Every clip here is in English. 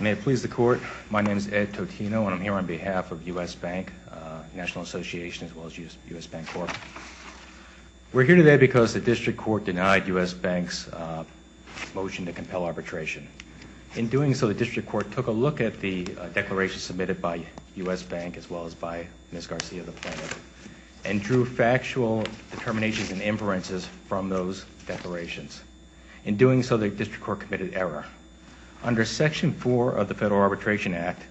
May it please the court, my name is Ed Totino and I'm here on behalf of U.S. Bank National Association as well as U.S. Bancorp. We're here today because the District Court denied U.S. Bank's motion to compel arbitration. In doing so, the District Court took a look at the declaration submitted by U.S. Bank as well as by Ms. Garcia, the plaintiff, and drew factual determinations and inferences from those declarations. In doing so, the District Court committed error. Under Section 4 of the Federal Arbitration Act,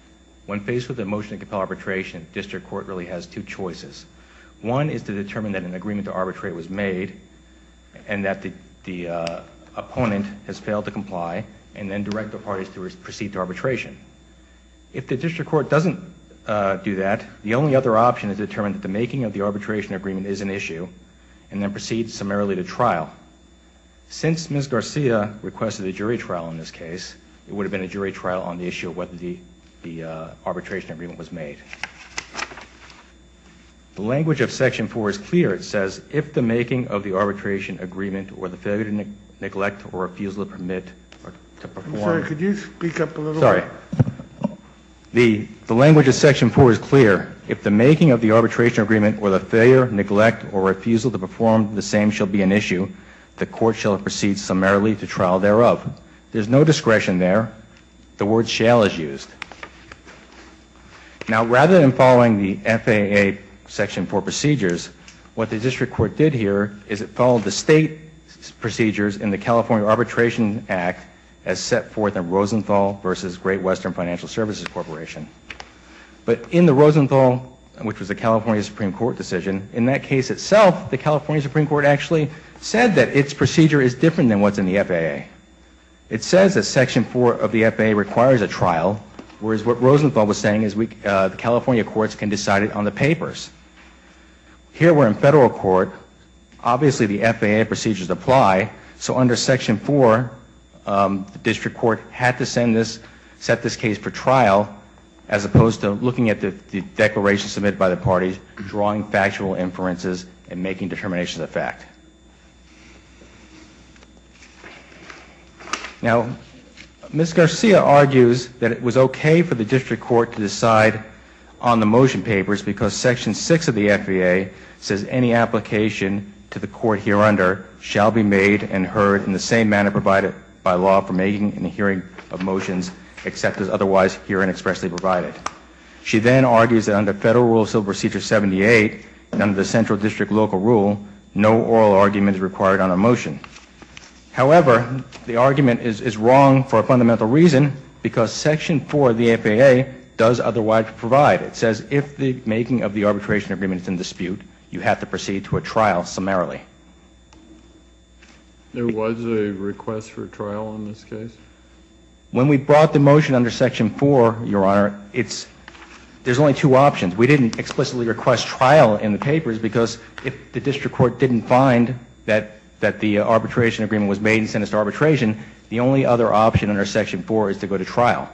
when faced with a motion to compel arbitration, the District Court really has two choices. One is to determine that an agreement to arbitrate was made and that the opponent has failed to comply and then direct the parties to proceed to arbitration. If the District Court doesn't do that, the only other option is to determine that the making of the arbitration agreement is an issue and then proceed summarily to trial. Since Ms. Garcia requested a jury trial in this case, it would have been a jury trial on the issue of whether the arbitration agreement was made. The language of Section 4 is clear. It says, if the making of the arbitration agreement or the failure to neglect or refusal to permit or to perform... I'm sorry, could you speak up a little? Sorry. The language of Section 4 is clear. If the making of the arbitration agreement or the failure, neglect, or refusal to perform the same shall be an issue, the court shall proceed summarily to trial thereof. There's no discretion there. The word shall is used. Now, rather than following the FAA Section 4 procedures, what the District Court did here is it followed the state procedures in the California Arbitration Act as set forth in Rosenthal v. Great Western Financial Services Corporation. But in the Rosenthal, which was a California Supreme Court decision, in that case itself, the California Supreme Court actually said that its procedure is different than what's in the FAA. It says that Section 4 of the FAA requires a trial, whereas what Rosenthal was saying is the California courts can decide it on the papers. Here we're in federal court. Obviously, the FAA procedures apply. So under Section 4, the District Court had to send this, set this case for trial, as opposed to looking at the declaration submitted by the parties, drawing factual inferences, and making determinations of fact. Now, Ms. Garcia argues that it was OK for the District Court to decide on the motion papers because Section 6 of the FAA says any application to the court here under shall be made and heard in the same manner provided by law for making and hearing of motions except as otherwise here and expressly provided. She then argues that under Federal Rule Civil Procedure 78, under the Central District Local Rule, no oral argument is required on a motion. However, the argument is wrong for a fundamental reason because Section 4 of the FAA does otherwise provide. It says if the making of the arbitration agreement is in dispute, you have to proceed to a trial summarily. There was a request for trial in this case? When we brought the motion under Section 4, Your Honor, there's only two options. We didn't explicitly request trial in the papers because if the District Court didn't find that the arbitration agreement was made and sentenced to arbitration, the only other option under Section 4 is to go to trial.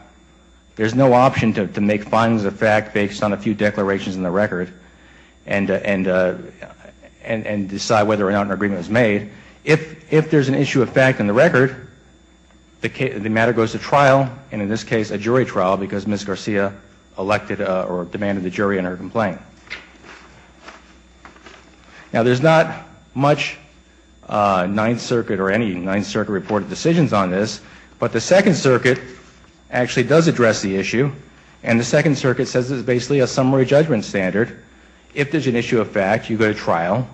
There's no option to make findings of fact based on a few declarations in the record and decide whether or not an agreement was made. If there's an issue of fact in the record, the matter goes to trial, and in this case, a jury trial because Ms. Garcia elected or demanded the jury enter a complaint. Now, there's not much Ninth Circuit or any Ninth Circuit reported decisions on this, but the Second Circuit actually does address the issue. And the Second Circuit says it's basically a summary judgment standard. If there's an issue of fact, you go to trial,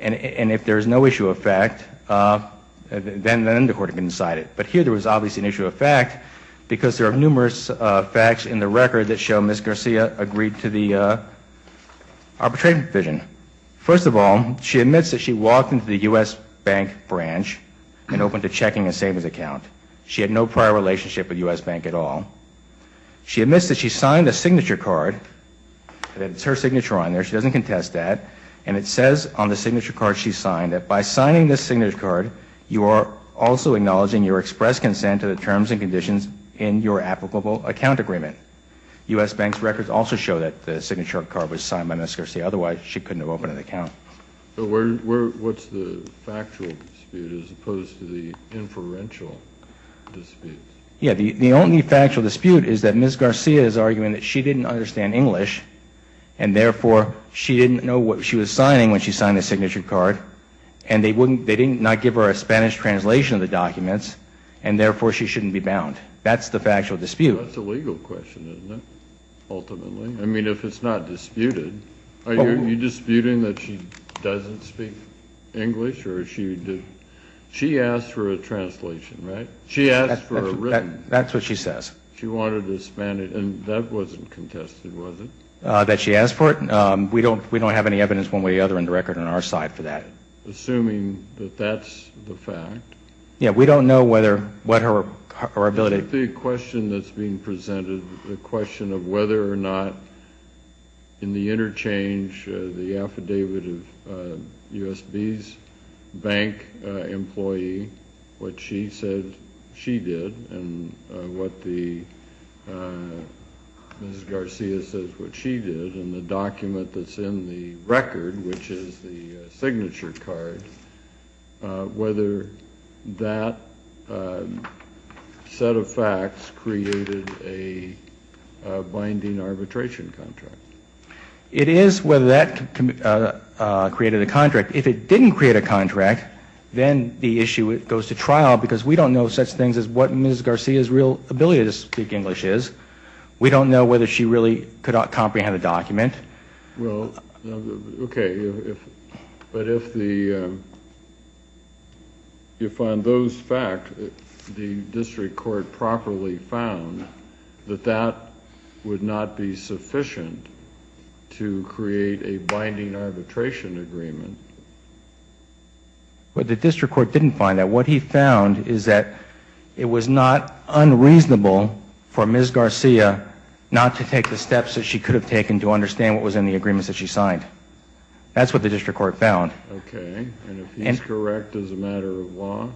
and if there's no issue of fact, then the undercourt can decide it. But here there was obviously an issue of fact because there are numerous facts in the record that show Ms. Garcia agreed to the arbitration provision. First of all, she admits that she walked into the U.S. Bank branch and opened a checking and savings account. She had no prior relationship with U.S. Bank at all. She admits that she signed a signature card, and it's her signature on there. She doesn't contest that, and it says on the signature card she signed that by signing this signature card, you are also acknowledging your express consent to the terms and conditions in your applicable account agreement. U.S. Bank's records also show that the signature card was signed by Ms. Garcia. Otherwise, she couldn't have opened an account. But what's the factual dispute as opposed to the inferential dispute? Yeah, the only factual dispute is that Ms. Garcia is arguing that she didn't understand English, and therefore she didn't know what she was signing when she signed the signature card, and they didn't give her a Spanish translation of the documents, and therefore she shouldn't be bound. That's the factual dispute. That's a legal question, isn't it, ultimately? I mean, if it's not disputed. Are you disputing that she doesn't speak English? She asked for a translation, right? She asked for a written. That's what she says. She wanted a Spanish, and that wasn't contested, was it? That she asked for it? We don't have any evidence one way or the other in the record on our side for that. Assuming that that's the fact. Yeah, we don't know what her ability. The question that's being presented, the question of whether or not in the interchange, the affidavit of USB's bank employee, what she said she did, and what the Ms. Garcia says what she did, and the document that's in the record, which is the signature card, whether that set of facts created a binding arbitration contract. It is whether that created a contract. If it didn't create a contract, then the issue goes to trial, because we don't know such things as what Ms. Garcia's real ability to speak English is. We don't know whether she really could comprehend the document. Well, okay. But if on those facts the district court properly found that that would not be sufficient to create a binding arbitration agreement. Well, the district court didn't find that. What he found is that it was not unreasonable for Ms. Garcia not to take the steps that she could have taken to understand what was in the agreements that she signed. That's what the district court found. Okay. And if he's correct as a matter of law?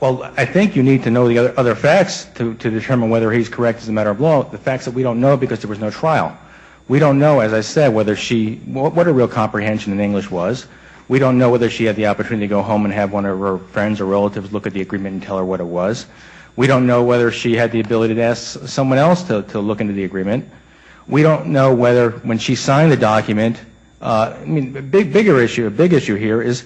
Well, I think you need to know the other facts to determine whether he's correct as a matter of law, the facts that we don't know because there was no trial. We don't know, as I said, what her real comprehension in English was. We don't know whether she had the opportunity to go home and have one of her friends or relatives look at the agreement and tell her what it was. We don't know whether she had the ability to ask someone else to look into the agreement. We don't know whether when she signed the document, I mean, a bigger issue, a big issue here is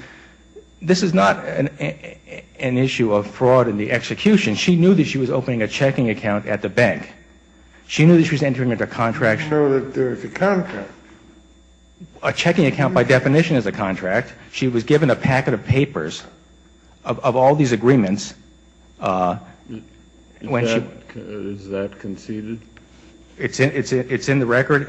this is not an issue of fraud in the execution. She knew that she was opening a checking account at the bank. She knew that she was entering into a contract. So that there is a contract. A checking account, by definition, is a contract. She was given a packet of papers of all these agreements. Is that conceded? It's in the record.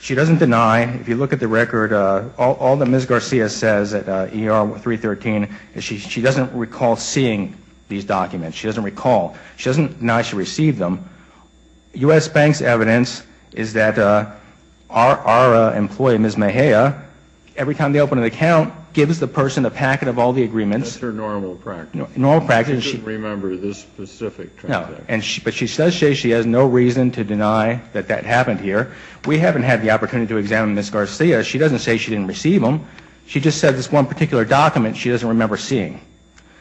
She doesn't deny. If you look at the record, all that Ms. Garcia says at ER 313 is she doesn't recall seeing these documents. She doesn't recall. She doesn't deny she received them. U.S. Bank's evidence is that our employee, Ms. Mejia, every time they open an account, gives the person a packet of all the agreements. That's her normal practice. Normal practice. She doesn't remember this specific contract. No. But she says she has no reason to deny that that happened here. We haven't had the opportunity to examine Ms. Garcia. She doesn't say she didn't receive them. She just said this one particular document she doesn't remember seeing.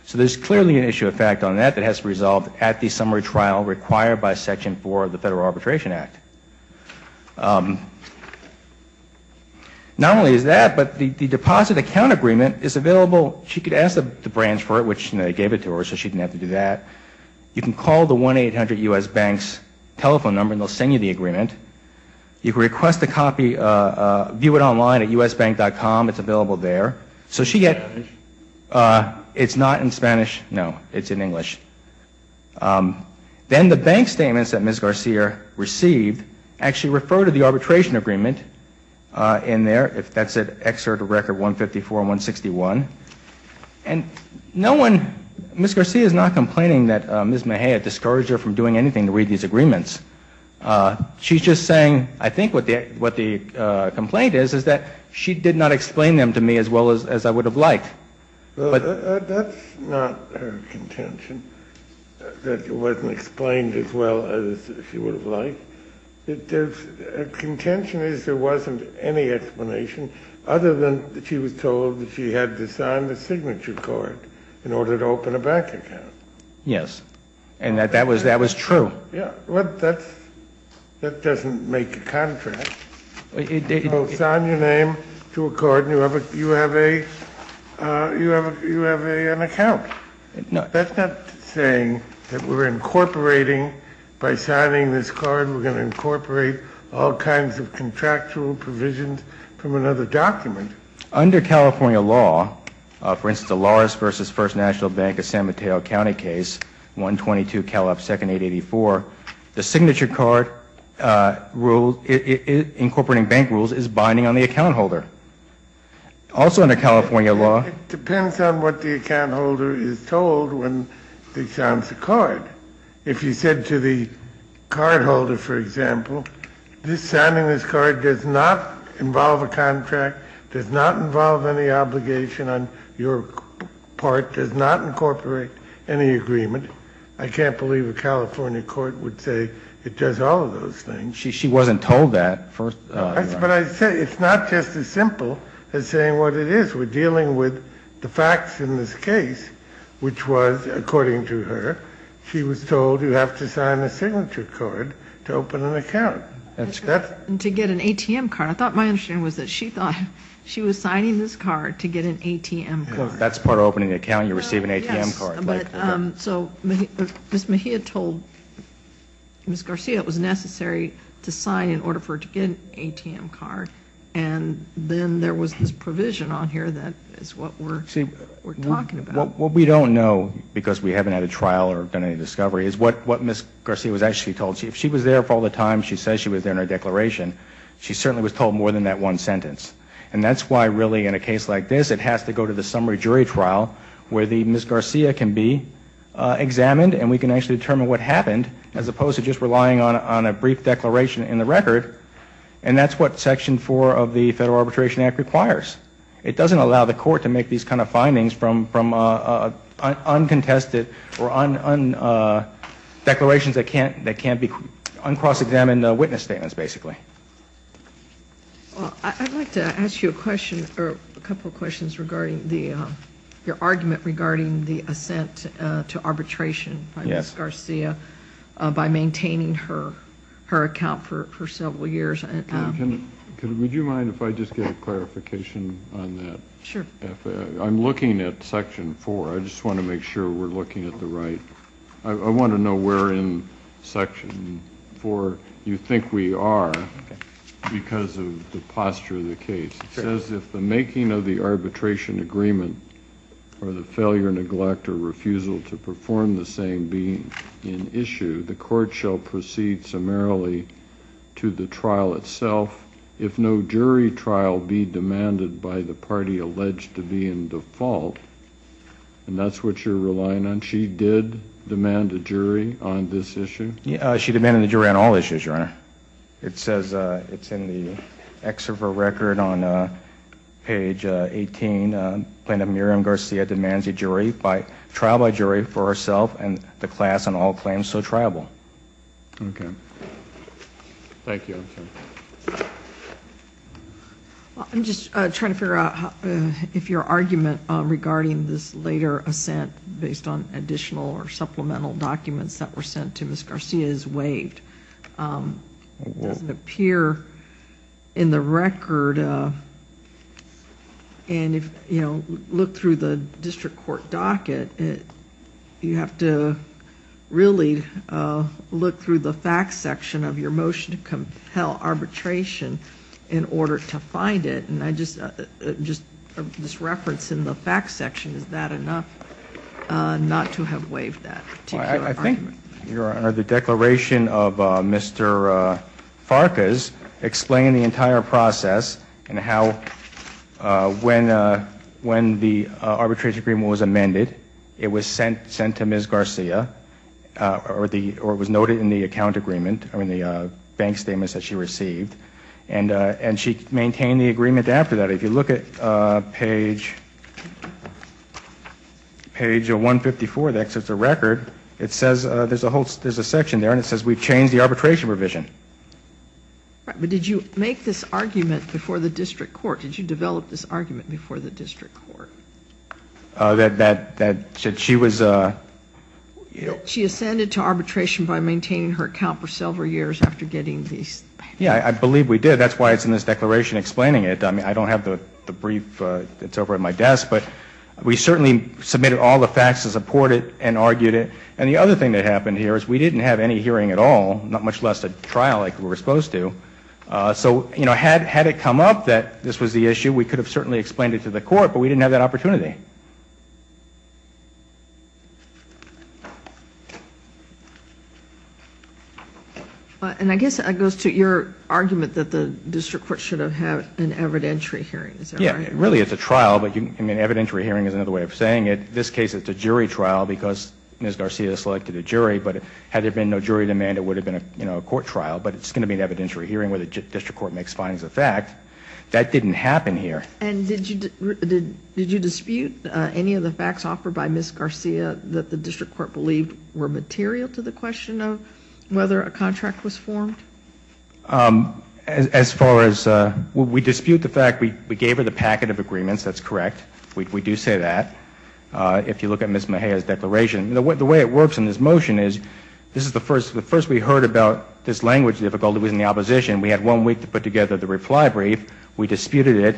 So there's clearly an issue of fact on that that has to be resolved at the summary trial required by Section 4 of the Federal Arbitration Act. Not only is that, but the deposit account agreement is available. She could ask the branch for it, which they gave it to her so she didn't have to do that. You can call the 1-800-US-BANKS telephone number and they'll send you the agreement. You can request a copy. View it online at usbank.com. It's available there. It's not in Spanish? No. It's in English. Then the bank statements that Ms. Garcia received actually refer to the arbitration agreement in there. That's at Excerpt Record 154 and 161. Ms. Garcia is not complaining that Ms. Mejia discouraged her from doing anything to read these agreements. She's just saying, I think what the complaint is, is that she did not explain them to me as well as I would have liked. That's not her contention, that it wasn't explained as well as she would have liked. Her contention is there wasn't any explanation other than she was told that she had to sign the signature card in order to open a bank account. Yes, and that was true. That doesn't make a contract. You sign your name to a card and you have an account. That's not saying that we're incorporating, by signing this card we're going to incorporate all kinds of contractual provisions from another document. Under California law, for instance, the Lawrence v. First National Bank of San Mateo County case 122 Cal Up Second 884, the signature card incorporating bank rules is binding on the account holder. Also under California law... It depends on what the account holder is told when they sign the card. If you said to the card holder, for example, signing this card does not involve a contract, does not involve any obligation on your part, does not incorporate any agreement, I can't believe a California court would say it does all of those things. She wasn't told that. But I say it's not just as simple as saying what it is. When Ms. Garcia was dealing with the facts in this case, which was, according to her, she was told you have to sign a signature card to open an account. To get an ATM card. I thought my understanding was that she thought she was signing this card to get an ATM card. That's part of opening an account, you receive an ATM card. So Ms. Mejia told Ms. Garcia it was necessary to sign in order for her to get an ATM card. And then there was this provision on here that is what we're talking about. What we don't know, because we haven't had a trial or done any discovery, is what Ms. Garcia was actually told. If she was there for all the time she says she was there in her declaration, she certainly was told more than that one sentence. And that's why really in a case like this it has to go to the summary jury trial where Ms. Garcia can be examined and we can actually determine what happened as opposed to just relying on a brief declaration in the record. And that's what Section 4 of the Federal Arbitration Act requires. It doesn't allow the court to make these kind of findings from uncontested or declarations that can't be uncross-examined witness statements, basically. I'd like to ask you a couple of questions regarding your argument regarding the assent to arbitration by Ms. Garcia by maintaining her account for several years. Would you mind if I just get a clarification on that? I'm looking at Section 4. I just want to make sure we're looking at the right. I want to know where in Section 4 you think we are because of the posture of the case. It says if the making of the arbitration agreement or the failure, neglect, or refusal to perform the same being in issue, the court shall proceed summarily to the trial itself if no jury trial be demanded by the party alleged to be in default. And that's what you're relying on? She did demand a jury on this issue? She demanded a jury on all issues, Your Honor. It says in the excerpt of her record on page 18, Plaintiff Miriam Garcia demands a jury trial by jury for herself and the class on all claims so triable. Okay. Thank you. I'm just trying to figure out if your argument regarding this later assent based on additional or supplemental documents that were sent to Ms. Garcia is waived. It doesn't appear in the record. Look through the district court docket. You have to really look through the facts section of your motion to compel arbitration in order to find it. And just this reference in the facts section, is that enough not to have waived that particular argument? I think, Your Honor, the declaration of Mr. Farkas explained the entire process and how when the arbitration agreement was amended, it was sent to Ms. Garcia, or it was noted in the account agreement, or in the bank statements that she received, and she maintained the agreement after that. If you look at page 154 of the excerpt of the record, it says there's a section there and it says we've changed the arbitration revision. But did you make this argument before the district court? Did you develop this argument before the district court? She ascended to arbitration by maintaining her account for several years after getting these. Yeah, I believe we did. That's why it's in this declaration explaining it. I don't have the brief that's over at my desk, but we certainly submitted all the facts to support it and argued it. And the other thing that happened here is we didn't have any hearing at all, not much less a trial like we were supposed to. So, you know, had it come up that this was the issue, we could have certainly explained it to the court, but we didn't have that opportunity. And I guess it goes to your argument that the district court should have had an evidentiary hearing, is that right? Yeah, really it's a trial, but an evidentiary hearing is another way of saying it. In this case, it's a jury trial because Ms. Garcia selected a jury, but had there been no jury demand, it would have been a court trial. But it's going to be an evidentiary hearing where the district court makes findings of fact. That didn't happen here. And did you dispute any of the facts offered by Ms. Garcia that the district court believed were material to the question of whether a contract was formed? As far as we dispute the fact we gave her the packet of agreements, that's correct. We do say that. If you look at Ms. Mejia's declaration, the way it works in this motion is this is the first we heard about this language difficulty was in the opposition. We had one week to put together the reply brief. We disputed it.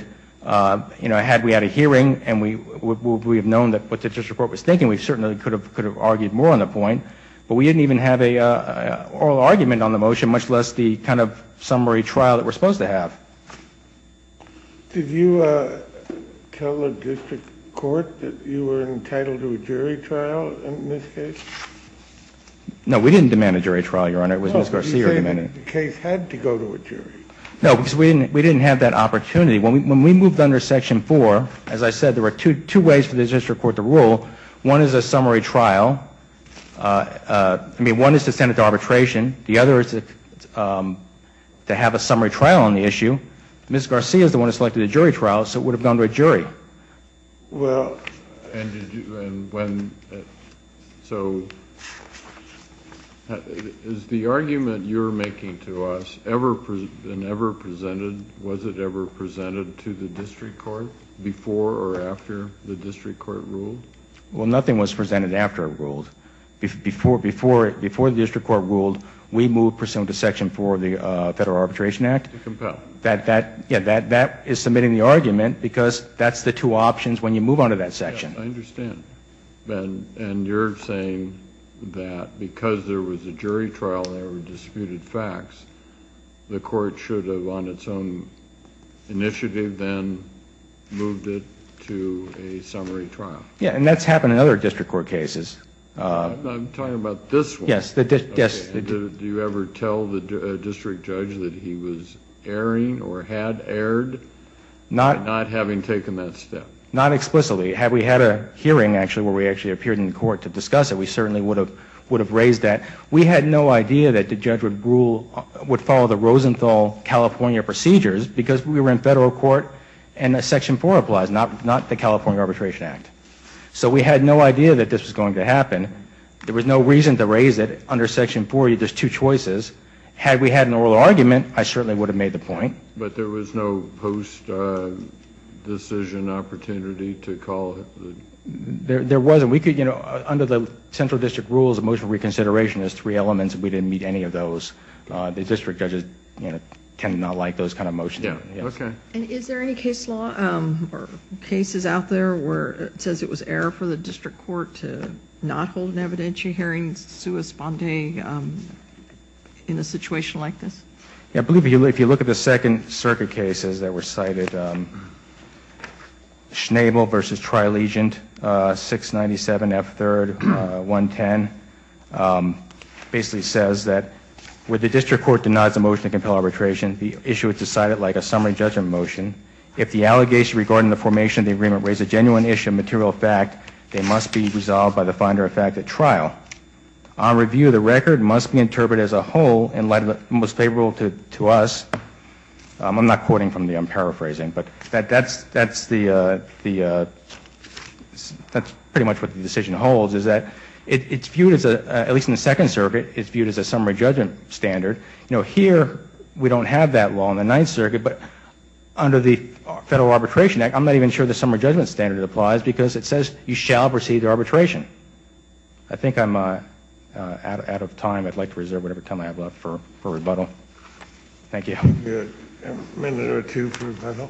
You know, had we had a hearing and we would have known what the district court was thinking, we certainly could have argued more on the point. But we didn't even have an oral argument on the motion, much less the kind of summary trial that we're supposed to have. Did you tell the district court that you were entitled to a jury trial in this case? No, we didn't demand a jury trial, Your Honor. It was Ms. Garcia who demanded it. No, because we didn't have that opportunity. When we moved under Section 4, as I said, there were two ways for the district court to rule. One is a summary trial. I mean, one is to send it to arbitration. The other is to have a summary trial on the issue. Ms. Garcia is the one who selected a jury trial, so it would have gone to a jury. Is the argument you're making to us ever presented to the district court before or after the district court ruled? Well, nothing was presented after it ruled. Before the district court ruled, we moved pursuant to Section 4 of the Federal Arbitration Act. That is submitting the argument because that's the two options when you move on to that section. Yes, I understand. And you're saying that because there was a jury trial and there were disputed facts, the court should have, on its own initiative, then moved it to a summary trial. Yes, and that's happened in other district court cases. I'm talking about this one. Do you ever tell the district judge that he was erring or had erred, not having taken that step? Not explicitly. Had we had a hearing, actually, where we actually appeared in court to discuss it, we certainly would have raised that. We had no idea that the judge would follow the Rosenthal-California procedures because we were in federal court and Section 4 applies, not the California Arbitration Act. So we had no idea that this was going to happen. There was no reason to raise it under Section 4. There's two choices. Had we had an oral argument, I certainly would have made the point. But there was no post-decision opportunity to call it? There wasn't. Under the central district rules, a motion for reconsideration has three elements. We didn't meet any of those. The district judges tend to not like those kind of motions. And is there any case law or cases out there where it says it was error for the district court to not hold an evidentiary hearing in a situation like this? I believe if you look at the Second Circuit cases that were cited, Schnabel v. Tri-Legion, 697 F. 3rd. 110, basically says that when the district court denies a motion to compel arbitration, the issue is decided like a summary judgment motion. If the allegation regarding the formation of the agreement raises a genuine issue of material fact, it must be resolved by the finder of fact at trial. Our review of the record must be interpreted as a whole in light of the most favorable to us. I'm not quoting from the, I'm paraphrasing, but that's pretty much what the decision holds. It's viewed as, at least in the Second Circuit, it's viewed as a summary judgment standard. Here, we don't have that law in the Ninth Circuit, but under the Federal Arbitration Act, I'm not even sure the summary judgment standard applies, because it says you shall proceed to arbitration. I think I'm out of time. I'd like to reserve whatever time I have left for rebuttal. Thank you. A minute or two for rebuttal.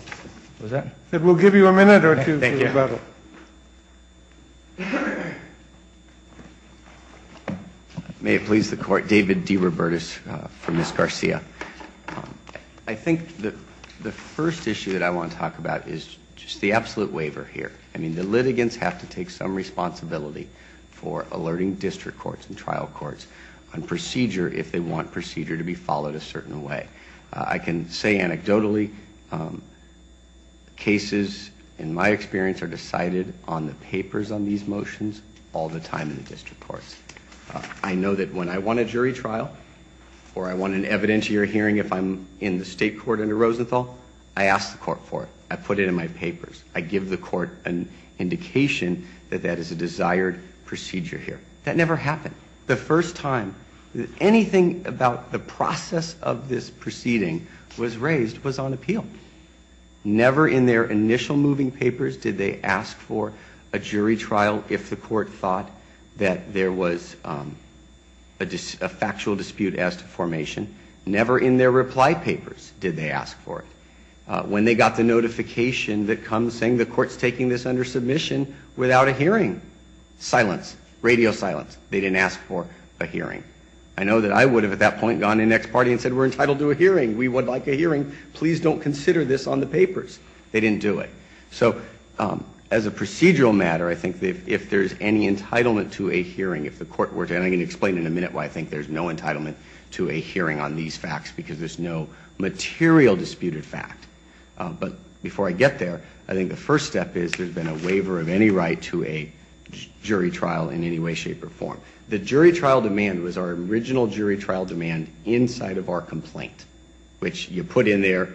We'll give you a minute or two for rebuttal. May it please the Court. David DeRobertis for Ms. Garcia. I think the first issue that I want to talk about is just the absolute waiver here. I mean, the litigants have to take some responsibility for alerting district courts and trial courts on procedure if they want procedure to be followed a certain way. I can say anecdotally, cases, in my experience, are decided on the papers on these motions all the time in the district courts. I know that when I want a jury trial or I want an evidentiary hearing if I'm in the state court under Rosenthal, I ask the court for it. I put it in my papers. I give the court an indication that that is a desired procedure here. That never happened. The first time anything about the process of this proceeding was raised was on appeal. Never in their initial moving papers did they ask for a jury trial if the court thought that there was a factual dispute as to formation. Never in their reply papers did they ask for it. When they got the notification that comes saying the court's taking this under submission without a hearing, silence, radio silence. They didn't ask for a hearing. I know that I would have at that point gone to the next party and said, we're entitled to a hearing. We would like a hearing. Please don't consider this on the papers. They didn't do it. So as a procedural matter, I think if there's any entitlement to a hearing, if the court were to, and I'm going to explain in a minute why I think there's no material disputed fact, but before I get there, I think the first step is there's been a waiver of any right to a jury trial in any way, shape, or form. The jury trial demand was our original jury trial demand inside of our complaint, which you put in there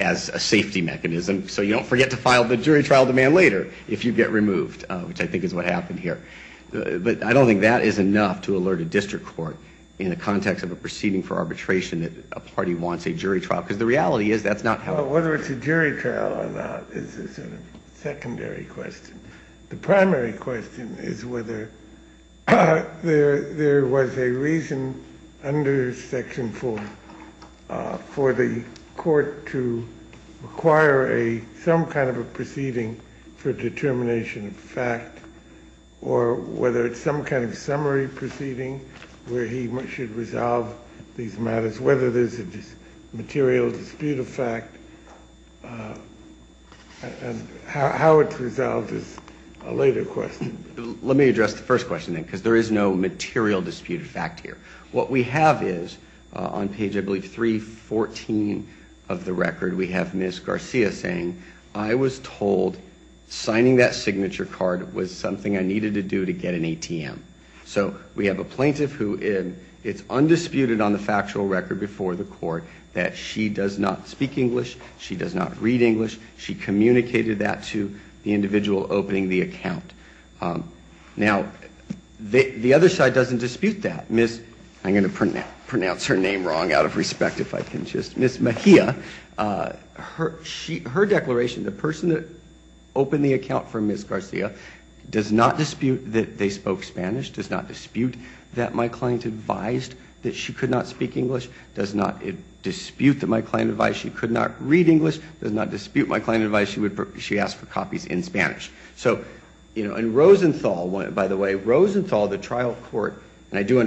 as a safety mechanism. So you don't forget to file the jury trial demand later if you get removed, which I think is what happened here. But I don't think that is enough to alert a district court in the context of a proceeding for arbitration that a party wants a jury trial. Because the reality is that's not how it works. Whether it's a jury trial or not is a sort of secondary question. The primary question is whether there was a reason under Section 4 for the court to require some kind of a proceeding for determination of fact or whether it was a jury trial. Or whether it's some kind of summary proceeding where he should resolve these matters, whether there's a material disputed fact, and how it's resolved is a later question. Let me address the first question, then, because there is no material disputed fact here. What we have is, on page, I believe, 314 of the record, we have Ms. Garcia saying, I was told signing that signature card was something I needed to do to get a jury trial. I needed to get an ATM. So we have a plaintiff who, it's undisputed on the factual record before the court that she does not speak English, she does not read English, she communicated that to the individual opening the account. Now, the other side doesn't dispute that. I'm going to pronounce her name wrong out of respect, if I can just. Ms. Mejia, her declaration, the person that opened the account for Ms. Garcia, does not dispute that she did not speak English. Does not dispute that they spoke Spanish. Does not dispute that my client advised that she could not speak English. Does not dispute that my client advised she could not read English. Does not dispute my client advised she asked for copies in Spanish. So, you know, in Rosenthal, by the way, Rosenthal, the trial court, and I do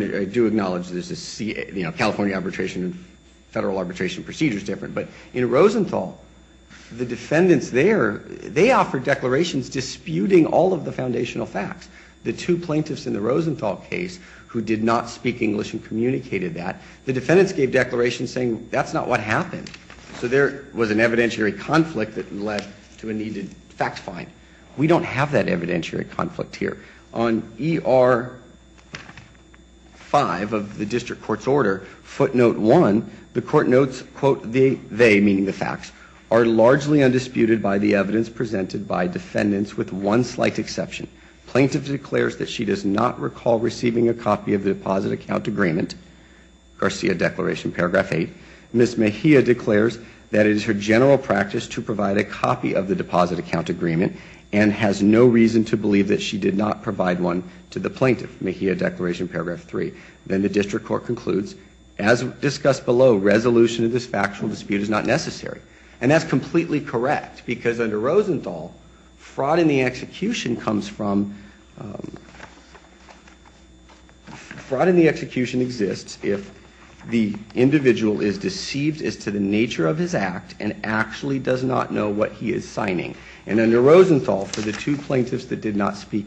acknowledge that California arbitration and federal arbitration procedure is different, but in Rosenthal, the defendants there, they offer declarations disputing all of the foundational facts. The two plaintiffs in the Rosenthal case who did not speak English and communicated that, the defendants gave declarations saying that's not what happened. So there was an evidentiary conflict that led to a needed fact find. We don't have that evidentiary conflict here. On ER 5 of the district court's order, footnote 1, the court notes, quote, they, meaning the facts, are largely undisputed by the evidence presented by defendants with one slight exception. Plaintiff declares that she does not recall receiving a copy of the deposit account agreement, Garcia Declaration, paragraph 8. Ms. Mejia declares that it is her general practice to provide a copy of the deposit account agreement and has no reason to believe that she did not provide one to the plaintiff, Mejia Declaration, paragraph 3. Then the district court concludes, as discussed below, resolution of this factual dispute is not necessary. And that's completely correct, because under Rosenthal, fraud in the execution comes from the plaintiff. Fraud in the execution exists if the individual is deceived as to the nature of his act and actually does not know what he is signing. And under Rosenthal, for the two plaintiffs that did not speak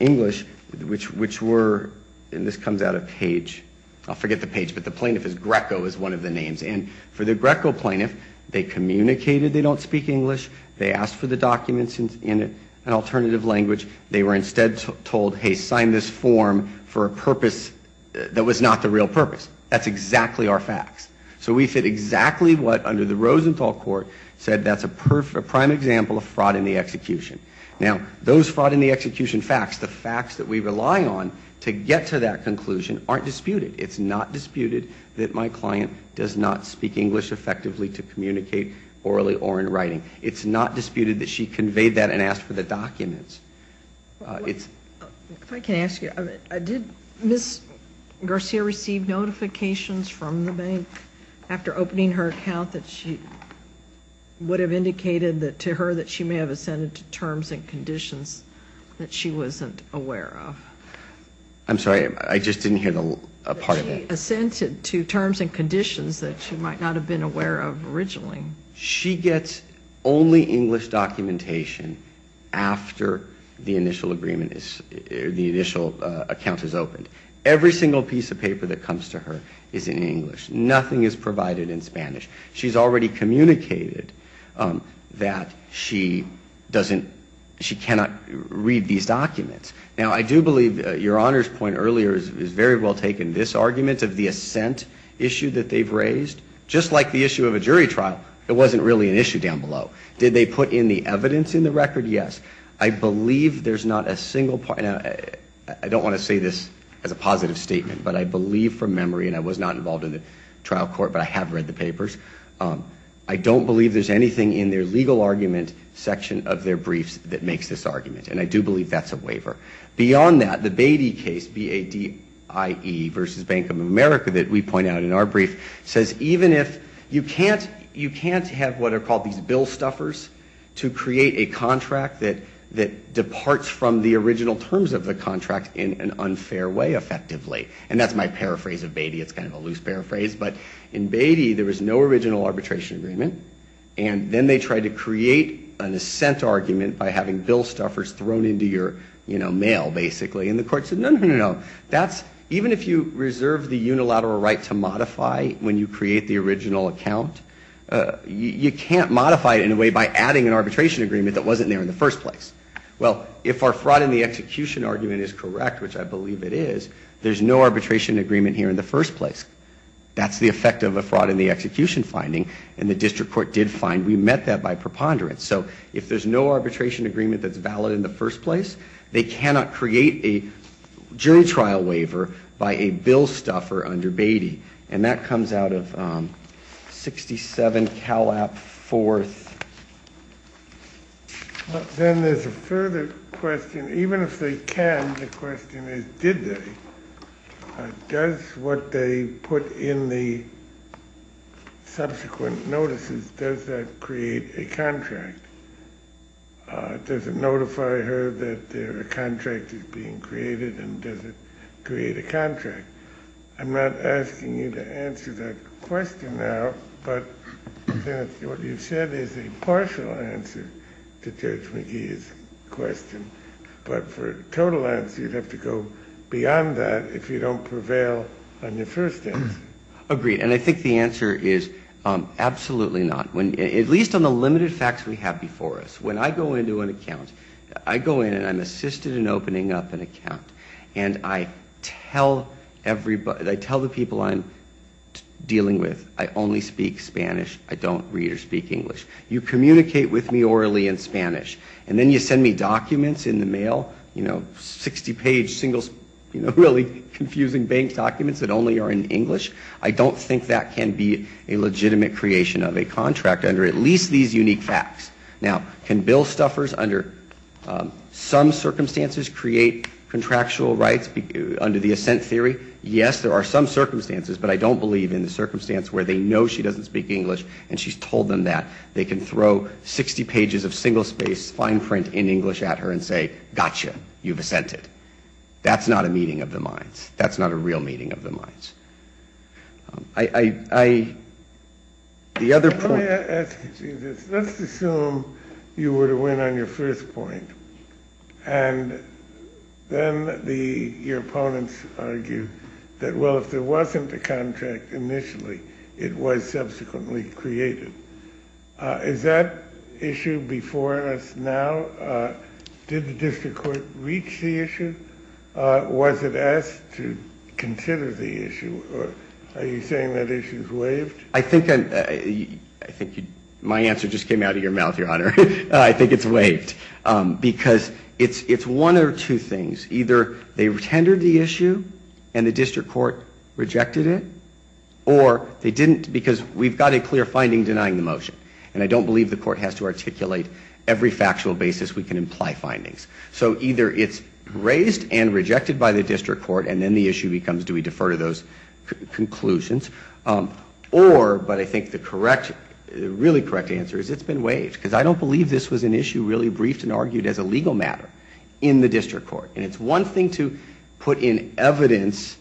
English, which were, and this comes out of Page, I'll forget the Page, but the plaintiff is Greco is one of the names. And for the Greco plaintiff, they communicated they don't speak English, they asked for the documents in it, and alternatively, the plaintiff did not speak English. They did not communicate in an effective language. They were instead told, hey, sign this form for a purpose that was not the real purpose. That's exactly our facts. So we fit exactly what under the Rosenthal court said that's a prime example of fraud in the execution. Now, those fraud in the execution facts, the facts that we rely on to get to that conclusion, aren't disputed. It's not disputed that my client does not speak English effectively to communicate orally or in writing. It's not disputed that she conveyed that and asked for the documents. If I can ask you, did Ms. Garcia receive notifications from the bank after opening her account that she would have indicated to her that she may have ascended to terms and conditions that she wasn't aware of? I'm sorry, I just didn't hear a part of that. That she ascended to terms and conditions that she might not have been aware of originally. Only English documentation after the initial agreement is, the initial account is opened. Every single piece of paper that comes to her is in English. Nothing is provided in Spanish. She's already communicated that she doesn't, she cannot read these documents. Now, I do believe Your Honor's point earlier has very well taken this argument of the ascent issue that they've raised. Just like the issue of a jury trial, it wasn't really an issue down below. Did they put in the evidence in the record? Yes. I believe there's not a single, I don't want to say this as a positive statement, but I believe from memory, and I was not involved in the trial court, but I have read the papers, I don't believe there's anything in their legal argument section of their briefs that makes this argument. And I do believe that's a waiver. Beyond that, the Beatty case, B-A-D-I-E versus Bank of America that we point out in our brief, says even if you can't, you can't have what are called these bill stuffers to create a contract that departs from the original terms of the contract in an unfair way, effectively. And that's my paraphrase of Beatty, it's kind of a loose paraphrase, but in Beatty, there was no original arbitration agreement. And then they tried to create an ascent argument by having bill stuffers thrown into your, you know, money. And the court said no, no, no, that's, even if you reserve the unilateral right to modify when you create the original account, you can't modify it in a way by adding an arbitration agreement that wasn't there in the first place. Well, if our fraud in the execution argument is correct, which I believe it is, there's no arbitration agreement here in the first place. That's the effect of a fraud in the execution finding, and the district court did find, we met that by preponderance. So if there's no arbitration agreement that's valid in the first place, they cannot create a jury trial waiver by a bill stuffer under Beatty. And that comes out of 67 Calap 4th. Then there's a further question, even if they can, the question is did they? Does what they put in the subsequent notices, does that create a contract? Does it notify her that a contract is being created and does it create a contract? I'm not asking you to answer that question now, but what you've said is a partial answer to Judge McGee's question, but for a total answer you'd have to go beyond that if you don't prevail on your first answer. Agreed, and I think the answer is absolutely not. At least on the limited facts we have before us, when I go into an account, I go in and I'm assisted in opening up an account, and I tell everybody, I tell the people I'm dealing with, I only speak Spanish, I don't read or speak English. You communicate with me orally in Spanish, and then you send me documents in the mail, you know, 60 page single, really confusing bank documents that only are in English, I don't think that can be a legitimate creation of a contract. Under at least these unique facts, now, can bill stuffers under some circumstances create contractual rights under the assent theory? Yes, there are some circumstances, but I don't believe in the circumstance where they know she doesn't speak English and she's told them that. They can throw 60 pages of single-space fine print in English at her and say, gotcha, you've assented. That's not a meeting of the minds, that's not a real meeting of the minds. I, the other point... Let me ask you this, let's assume you were to win on your first point, and then your opponents argue that, well, if there wasn't a contract initially, it was subsequently created. Is that issue before us now? Was it asked to consider the issue, or are you saying that issue's waived? I think my answer just came out of your mouth, Your Honor. I think it's waived, because it's one of two things, either they tendered the issue and the district court rejected it, or they didn't, because we've got a clear finding denying the motion, and I don't believe the court has to articulate every factual basis we can imply findings. So either it's raised and rejected by the district court, and then the issue becomes, do we defer to those conclusions? Or, but I think the really correct answer is it's been waived, because I don't believe this was an issue really briefed and argued as a legal matter in the district court, and it's one thing to put in evidence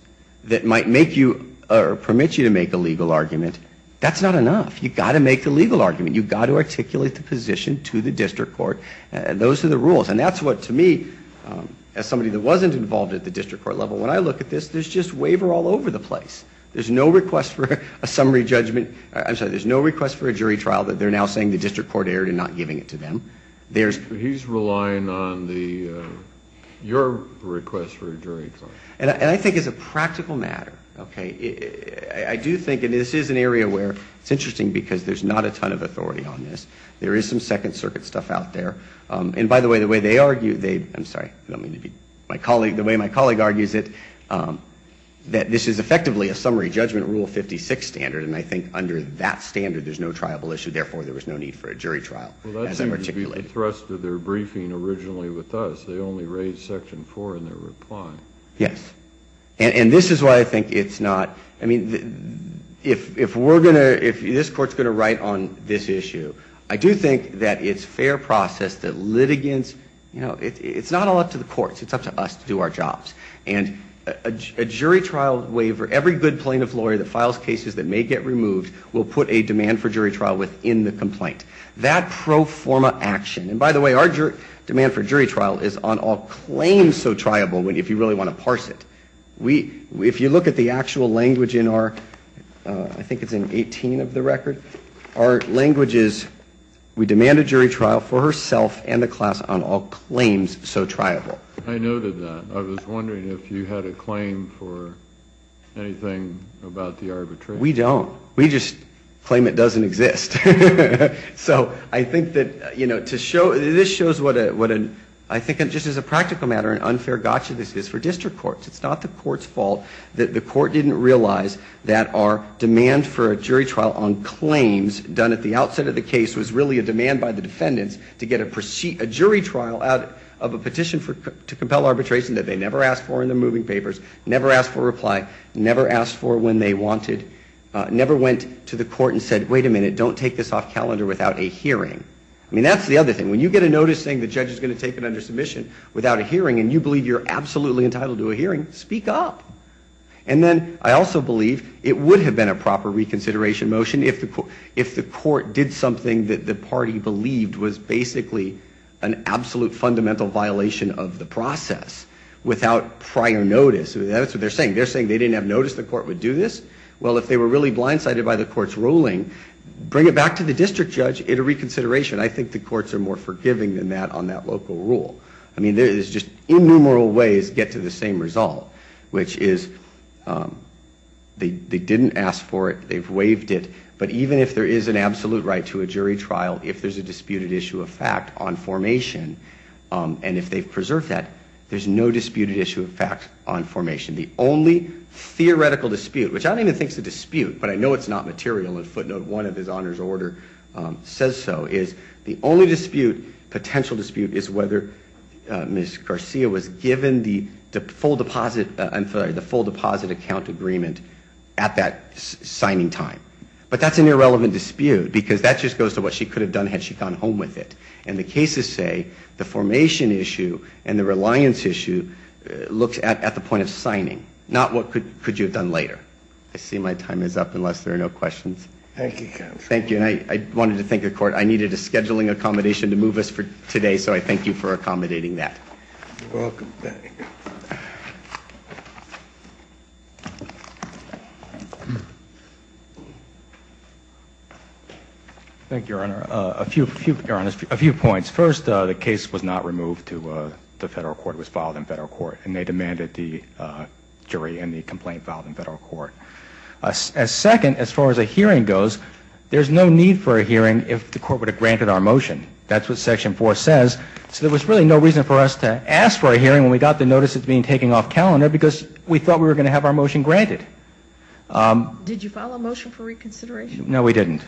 that might make you, or permit you to make a legal argument, that's not enough. You've got to make the legal argument, you've got to articulate the position to the district court, and those are the rules. And that's what, to me, as somebody that wasn't involved at the district court level, when I look at this, there's just waiver all over the place. There's no request for a summary judgment, I'm sorry, there's no request for a jury trial that they're now saying the district court erred and not giving it to them. He's relying on the, your request for a jury trial. And I think as a practical matter, okay, I do think, and this is an area where, it's interesting because there's not a ton of authority on this. There is some second circuit stuff out there, and by the way, the way they argue, I'm sorry, I don't mean to be, the way my colleague argues it, that this is effectively a summary judgment rule 56 standard, and I think under that standard, there's no triable issue, therefore, there was no need for a jury trial. Well, that seems to be the thrust of their briefing originally with us, they only raised section four in their reply. Yes, and this is why I think it's not, I mean, if we're going to, if this court's going to write on this issue, I don't think they're going to do that. I do think that it's fair process that litigants, you know, it's not all up to the courts, it's up to us to do our jobs. And a jury trial waiver, every good plaintiff lawyer that files cases that may get removed will put a demand for jury trial within the complaint. That pro forma action, and by the way, our demand for jury trial is on all claims so triable, if you really want to parse it. We, if you look at the actual language in our, I think it's in 18 of the record, our language is, you know, the plaintiff, we demand a jury trial for herself and the class on all claims so triable. I noted that. I was wondering if you had a claim for anything about the arbitration. We don't. We just claim it doesn't exist. So I think that, you know, to show, this shows what a, what a, I think just as a practical matter, an unfair gotcha, this is for district courts. It's not the court's fault that the court didn't realize that our demand for a jury trial on claims done at the outset of the case was really a demand by the defendants to get a jury trial out of a petition to compel arbitration that they never asked for in their moving papers, never asked for a reply, never asked for when they wanted, never went to the court and said, wait a minute, don't take this off calendar without a hearing. I mean, that's the other thing. When you get a notice saying the judge is going to take it under submission without a hearing and you believe you're absolutely entitled to a hearing, speak up. And then I also believe it would have been a proper reconsideration motion if the, if the court did something that the party believed was basically an absolute fundamental violation of the process without prior notice. That's what they're saying. They're saying they didn't have notice the court would do this. Well, if they were really blindsided by the court's ruling, bring it back to the district judge at a reconsideration. I think the courts are more forgiving than that on that local rule. I mean, there's just innumerable ways to get to the same result, which is they didn't ask for it. They've waived it. But even if there is an absolute right to a jury trial, if there's a disputed issue of fact on formation and if they've preserved that, there's no disputed issue of fact on formation. The only theoretical dispute, which I don't even think is a dispute, but I know it's not material and footnote one of his honors order says so, is the only dispute, potential dispute, that Ms. Garcia was given the full deposit, I'm sorry, the full deposit account agreement at that signing time. But that's an irrelevant dispute because that just goes to what she could have done had she gone home with it. And the cases say the formation issue and the reliance issue looks at the point of signing, not what could you have done later. I see my time is up unless there are no questions. Thank you, counsel. Thank you. And I wanted to thank the court. I needed a scheduling accommodation to move us for today, so I thank you for accommodating that. Thank you, Your Honor. A few points. First, the case was not removed to the federal court. It was filed in federal court and they said, as the term goes, there's no need for a hearing if the court would have granted our motion. That's what Section 4 says. So there was really no reason for us to ask for a hearing when we got the notice it's being taken off calendar because we thought we were going to have our motion granted. Did you file a motion for reconsideration? No, we didn't.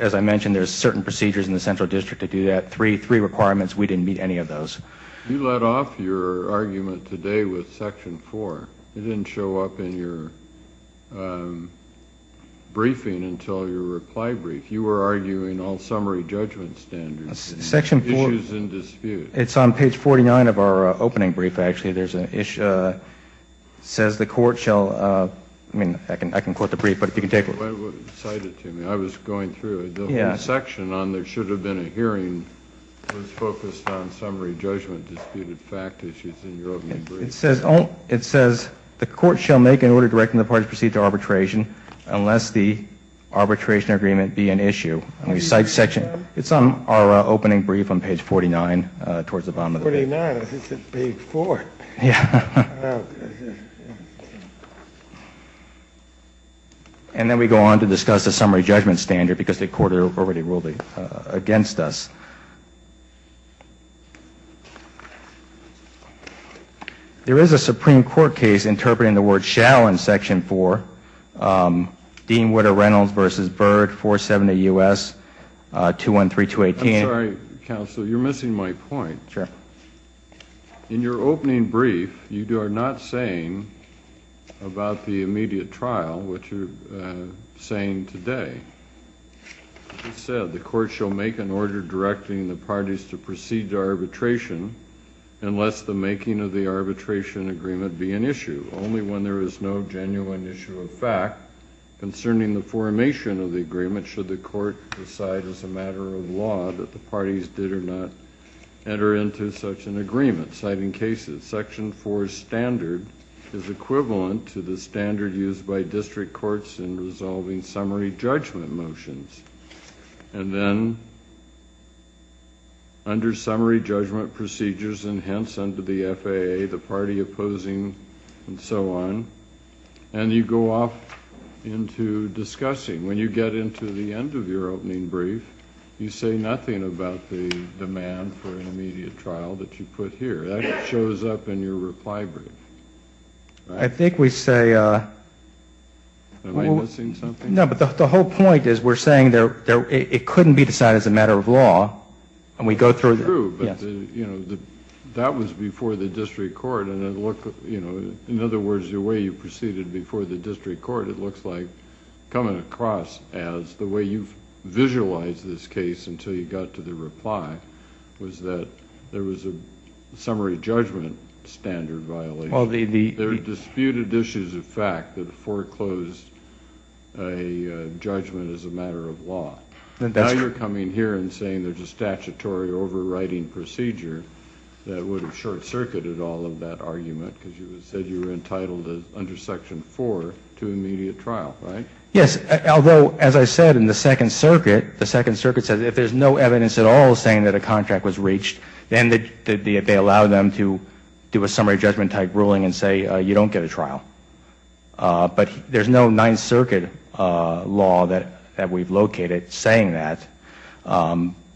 As I mentioned, there's certain procedures in the Central District that do that. Three requirements, we didn't meet any of those. You let off your argument today with Section 4. It didn't show up in your briefing until a couple of weeks ago. You were arguing all summary judgment standards, issues in dispute. It's on page 49 of our opening brief, actually. There's an issue, it says the court shall, I mean, I can quote the brief, but if you can take it. Cite it to me. I was going through it. The section on there should have been a hearing was focused on summary judgment, disputed fact issues in your opening brief. It says, the court shall make an order directing the parties to proceed to arbitration unless the arbitration is approved. It's on our opening brief on page 49. Page 49? I thought it was page 4. And then we go on to discuss the summary judgment standard because the court already ruled it against us. There is a Supreme Court case interpreting the word shall in Section 4. Dean Whitter-Reynolds v. Byrd, 478 U.S., 213218. I'm sorry, counsel, you're missing my point. In your opening brief, you are not saying about the immediate trial what you're saying today. It said, the court shall make an order directing the parties to proceed to arbitration unless the making of the arbitration agreement be an issue. Only when there is no genuine issue of fact concerning the formation of the agreement should the court decide as a matter of law that the parties did or not enter into such an agreement. Citing cases, Section 4 standard is equivalent to the standard used by district courts in resolving summary judgment motions. And then, under summary judgment procedures, and hence under the FAA, the party opposing the summary judgment procedure is not subject to the summary judgment procedure. And so on. And you go off into discussing, when you get into the end of your opening brief, you say nothing about the demand for an immediate trial that you put here. That shows up in your reply brief. Am I missing something? No, but the whole point is we're saying it couldn't be decided as a matter of law. In other words, the way you proceeded before the district court, it looks like, coming across as the way you've visualized this case until you got to the reply, was that there was a summary judgment standard violation. There were disputed issues of fact that foreclosed a judgment as a matter of law. Now you're coming here and saying there's a statutory overriding procedure that would have short-circuited all of that argument because you said you were entitled to it. You're entitled under Section 4 to immediate trial, right? Yes, although, as I said, in the Second Circuit, the Second Circuit says if there's no evidence at all saying that a contract was reached, then they allow them to do a summary judgment-type ruling and say you don't get a trial. But there's no Ninth Circuit law that we've located saying that.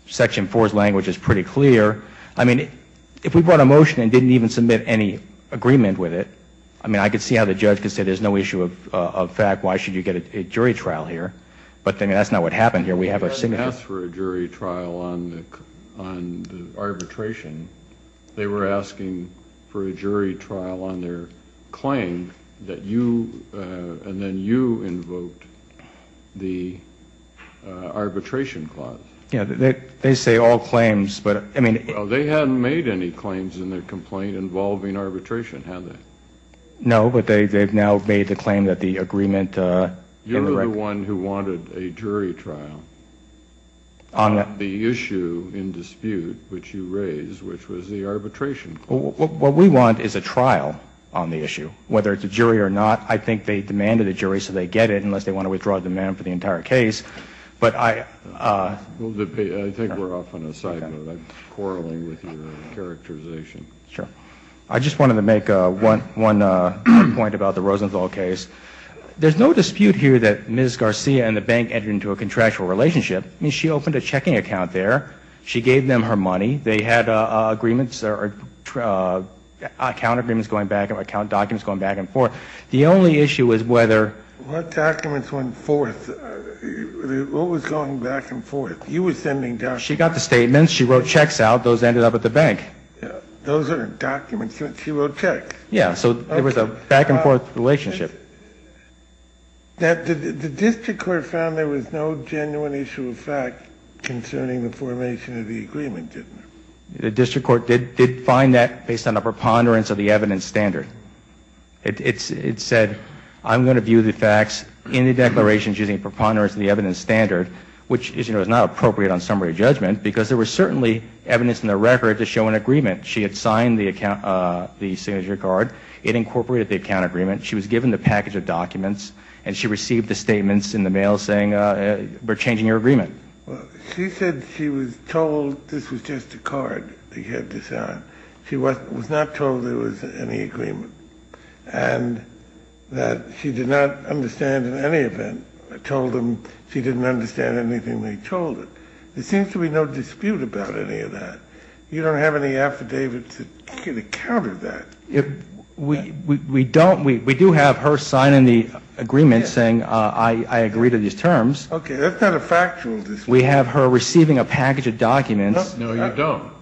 Section 4's language is pretty clear. I mean, I could see how the judge could say there's no issue of fact, why should you get a jury trial here, but that's not what happened here. We have a signature. When they asked for a jury trial on arbitration, they were asking for a jury trial on their claim that you, and then you, invoked the arbitration clause. Yeah, they say all claims, but I mean... They hadn't made any claims in their complaint involving arbitration, had they? No, but they've now made the claim that the agreement... You're the one who wanted a jury trial on the issue in dispute which you raised, which was the arbitration clause. What we want is a trial on the issue, whether it's a jury or not. I think they demanded a jury so they get it unless they want to withdraw a demand for the entire case, but I... I think we're off on a side note. I'm quarreling with your characterization. I just wanted to make one point about the Rosenthal case. There's no dispute here that Ms. Garcia and the bank entered into a contractual relationship. I mean, she opened a checking account there. She gave them her money. They had agreements, account agreements going back, account documents going back and forth. The only issue is whether... What documents went forth? What was going back and forth? She got the statements. She wrote checks out. Those ended up at the bank. Those are documents. She wrote checks. Yeah, so it was a back and forth relationship. The district court found there was no genuine issue of fact concerning the formation of the agreement, didn't it? The district court did find that based on a preponderance of the evidence standard. It said, I'm going to view the facts in the declarations using preponderance of the evidence standard, which is not appropriate on summary judgment because there was certainly evidence in the record to show an agreement. She had signed the signature card. It incorporated the account agreement. She was given the package of documents, and she received the statements in the mail saying, we're changing your agreement. She said she was told this was just a card they had to sign. She was not told there was any agreement and that she did not understand in any event. She didn't understand anything they told her. There seems to be no dispute about any of that. You don't have any affidavits that counter that. We do have her signing the agreement saying, I agree to these terms. Okay, that's not a factual dispute. We have her receiving a package of documents. No, you don't.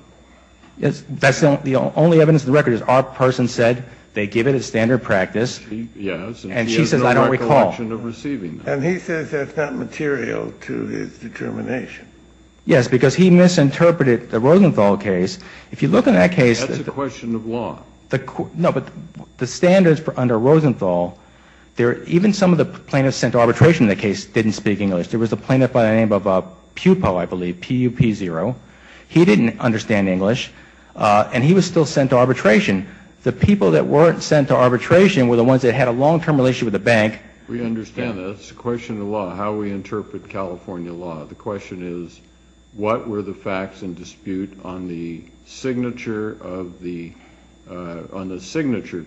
The only evidence in the record is our person said they give it as standard practice. Yes. And she says, I don't recall. And he says that's not material to his determination. Yes, because he misinterpreted the Rosenthal case. If you look in that case. That's a question of law. No, but the standards under Rosenthal, even some of the plaintiffs sent to arbitration in the case didn't speak English. There was a plaintiff by the name of Pupo, I believe, P-U-P-0. He didn't understand English. And he was still sent to arbitration. The people that weren't sent to arbitration were the ones that had a long-term relationship with the bank. We understand that. It's a question of law, how we interpret California law. The question is, what were the facts in dispute on the signature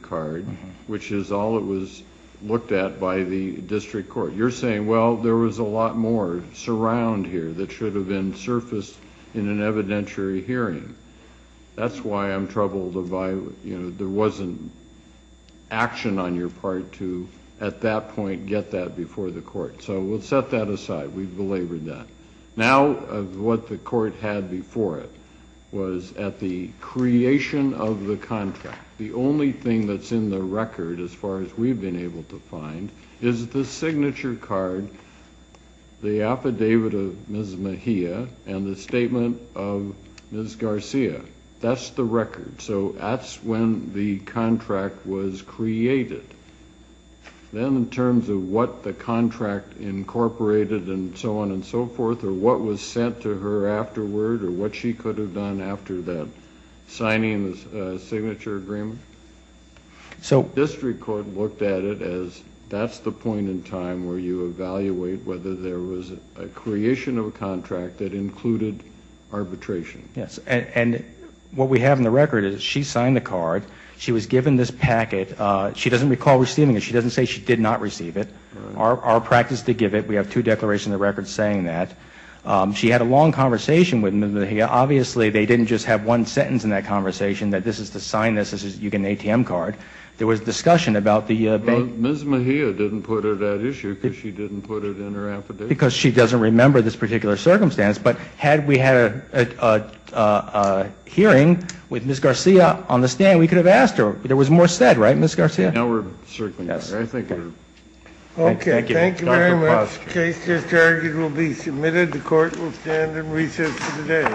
card, which is all that was looked at by the district court? You're saying, well, there was a lot more surround here that should have been surfaced in an evidentiary hearing. That's why I'm troubled if there wasn't action on your part to, at that point, get that before the court. So we'll set that aside. We've belabored that. Now, what the court had before it was at the creation of the contract, the only thing that's in the record, as far as we've been able to find, is the signature card, the affidavit of Ms. Mejia, and the statement of Ms. Garcia. That's the record. So that's when the contract was created. Then in terms of what the contract incorporated and so on and so forth, or what was sent to her afterward or what she could have done after that signing the signature agreement, the district court looked at it as that's the point in time where you evaluate whether there was a creation of a contract that included arbitration. Yes, and what we have in the record is she signed the card. She was given this packet. She doesn't recall receiving it. She doesn't say she did not receive it. Our practice to give it, we have two declarations in the record saying that. She had a long conversation with Ms. Mejia. Obviously, they didn't just have one sentence in that conversation that this is to sign this, this is an ATM card. There was discussion about the bank. Well, Ms. Mejia didn't put it at issue because she didn't put it in her affidavit. Because she doesn't remember this particular circumstance. But had we had a hearing with Ms. Garcia on the stand, we could have asked her. There was more said, right, Ms. Garcia? Now we're circling back. Yes. Thank you. Okay, thank you very much. The case just argued will be submitted. The court will stand and recess for the day.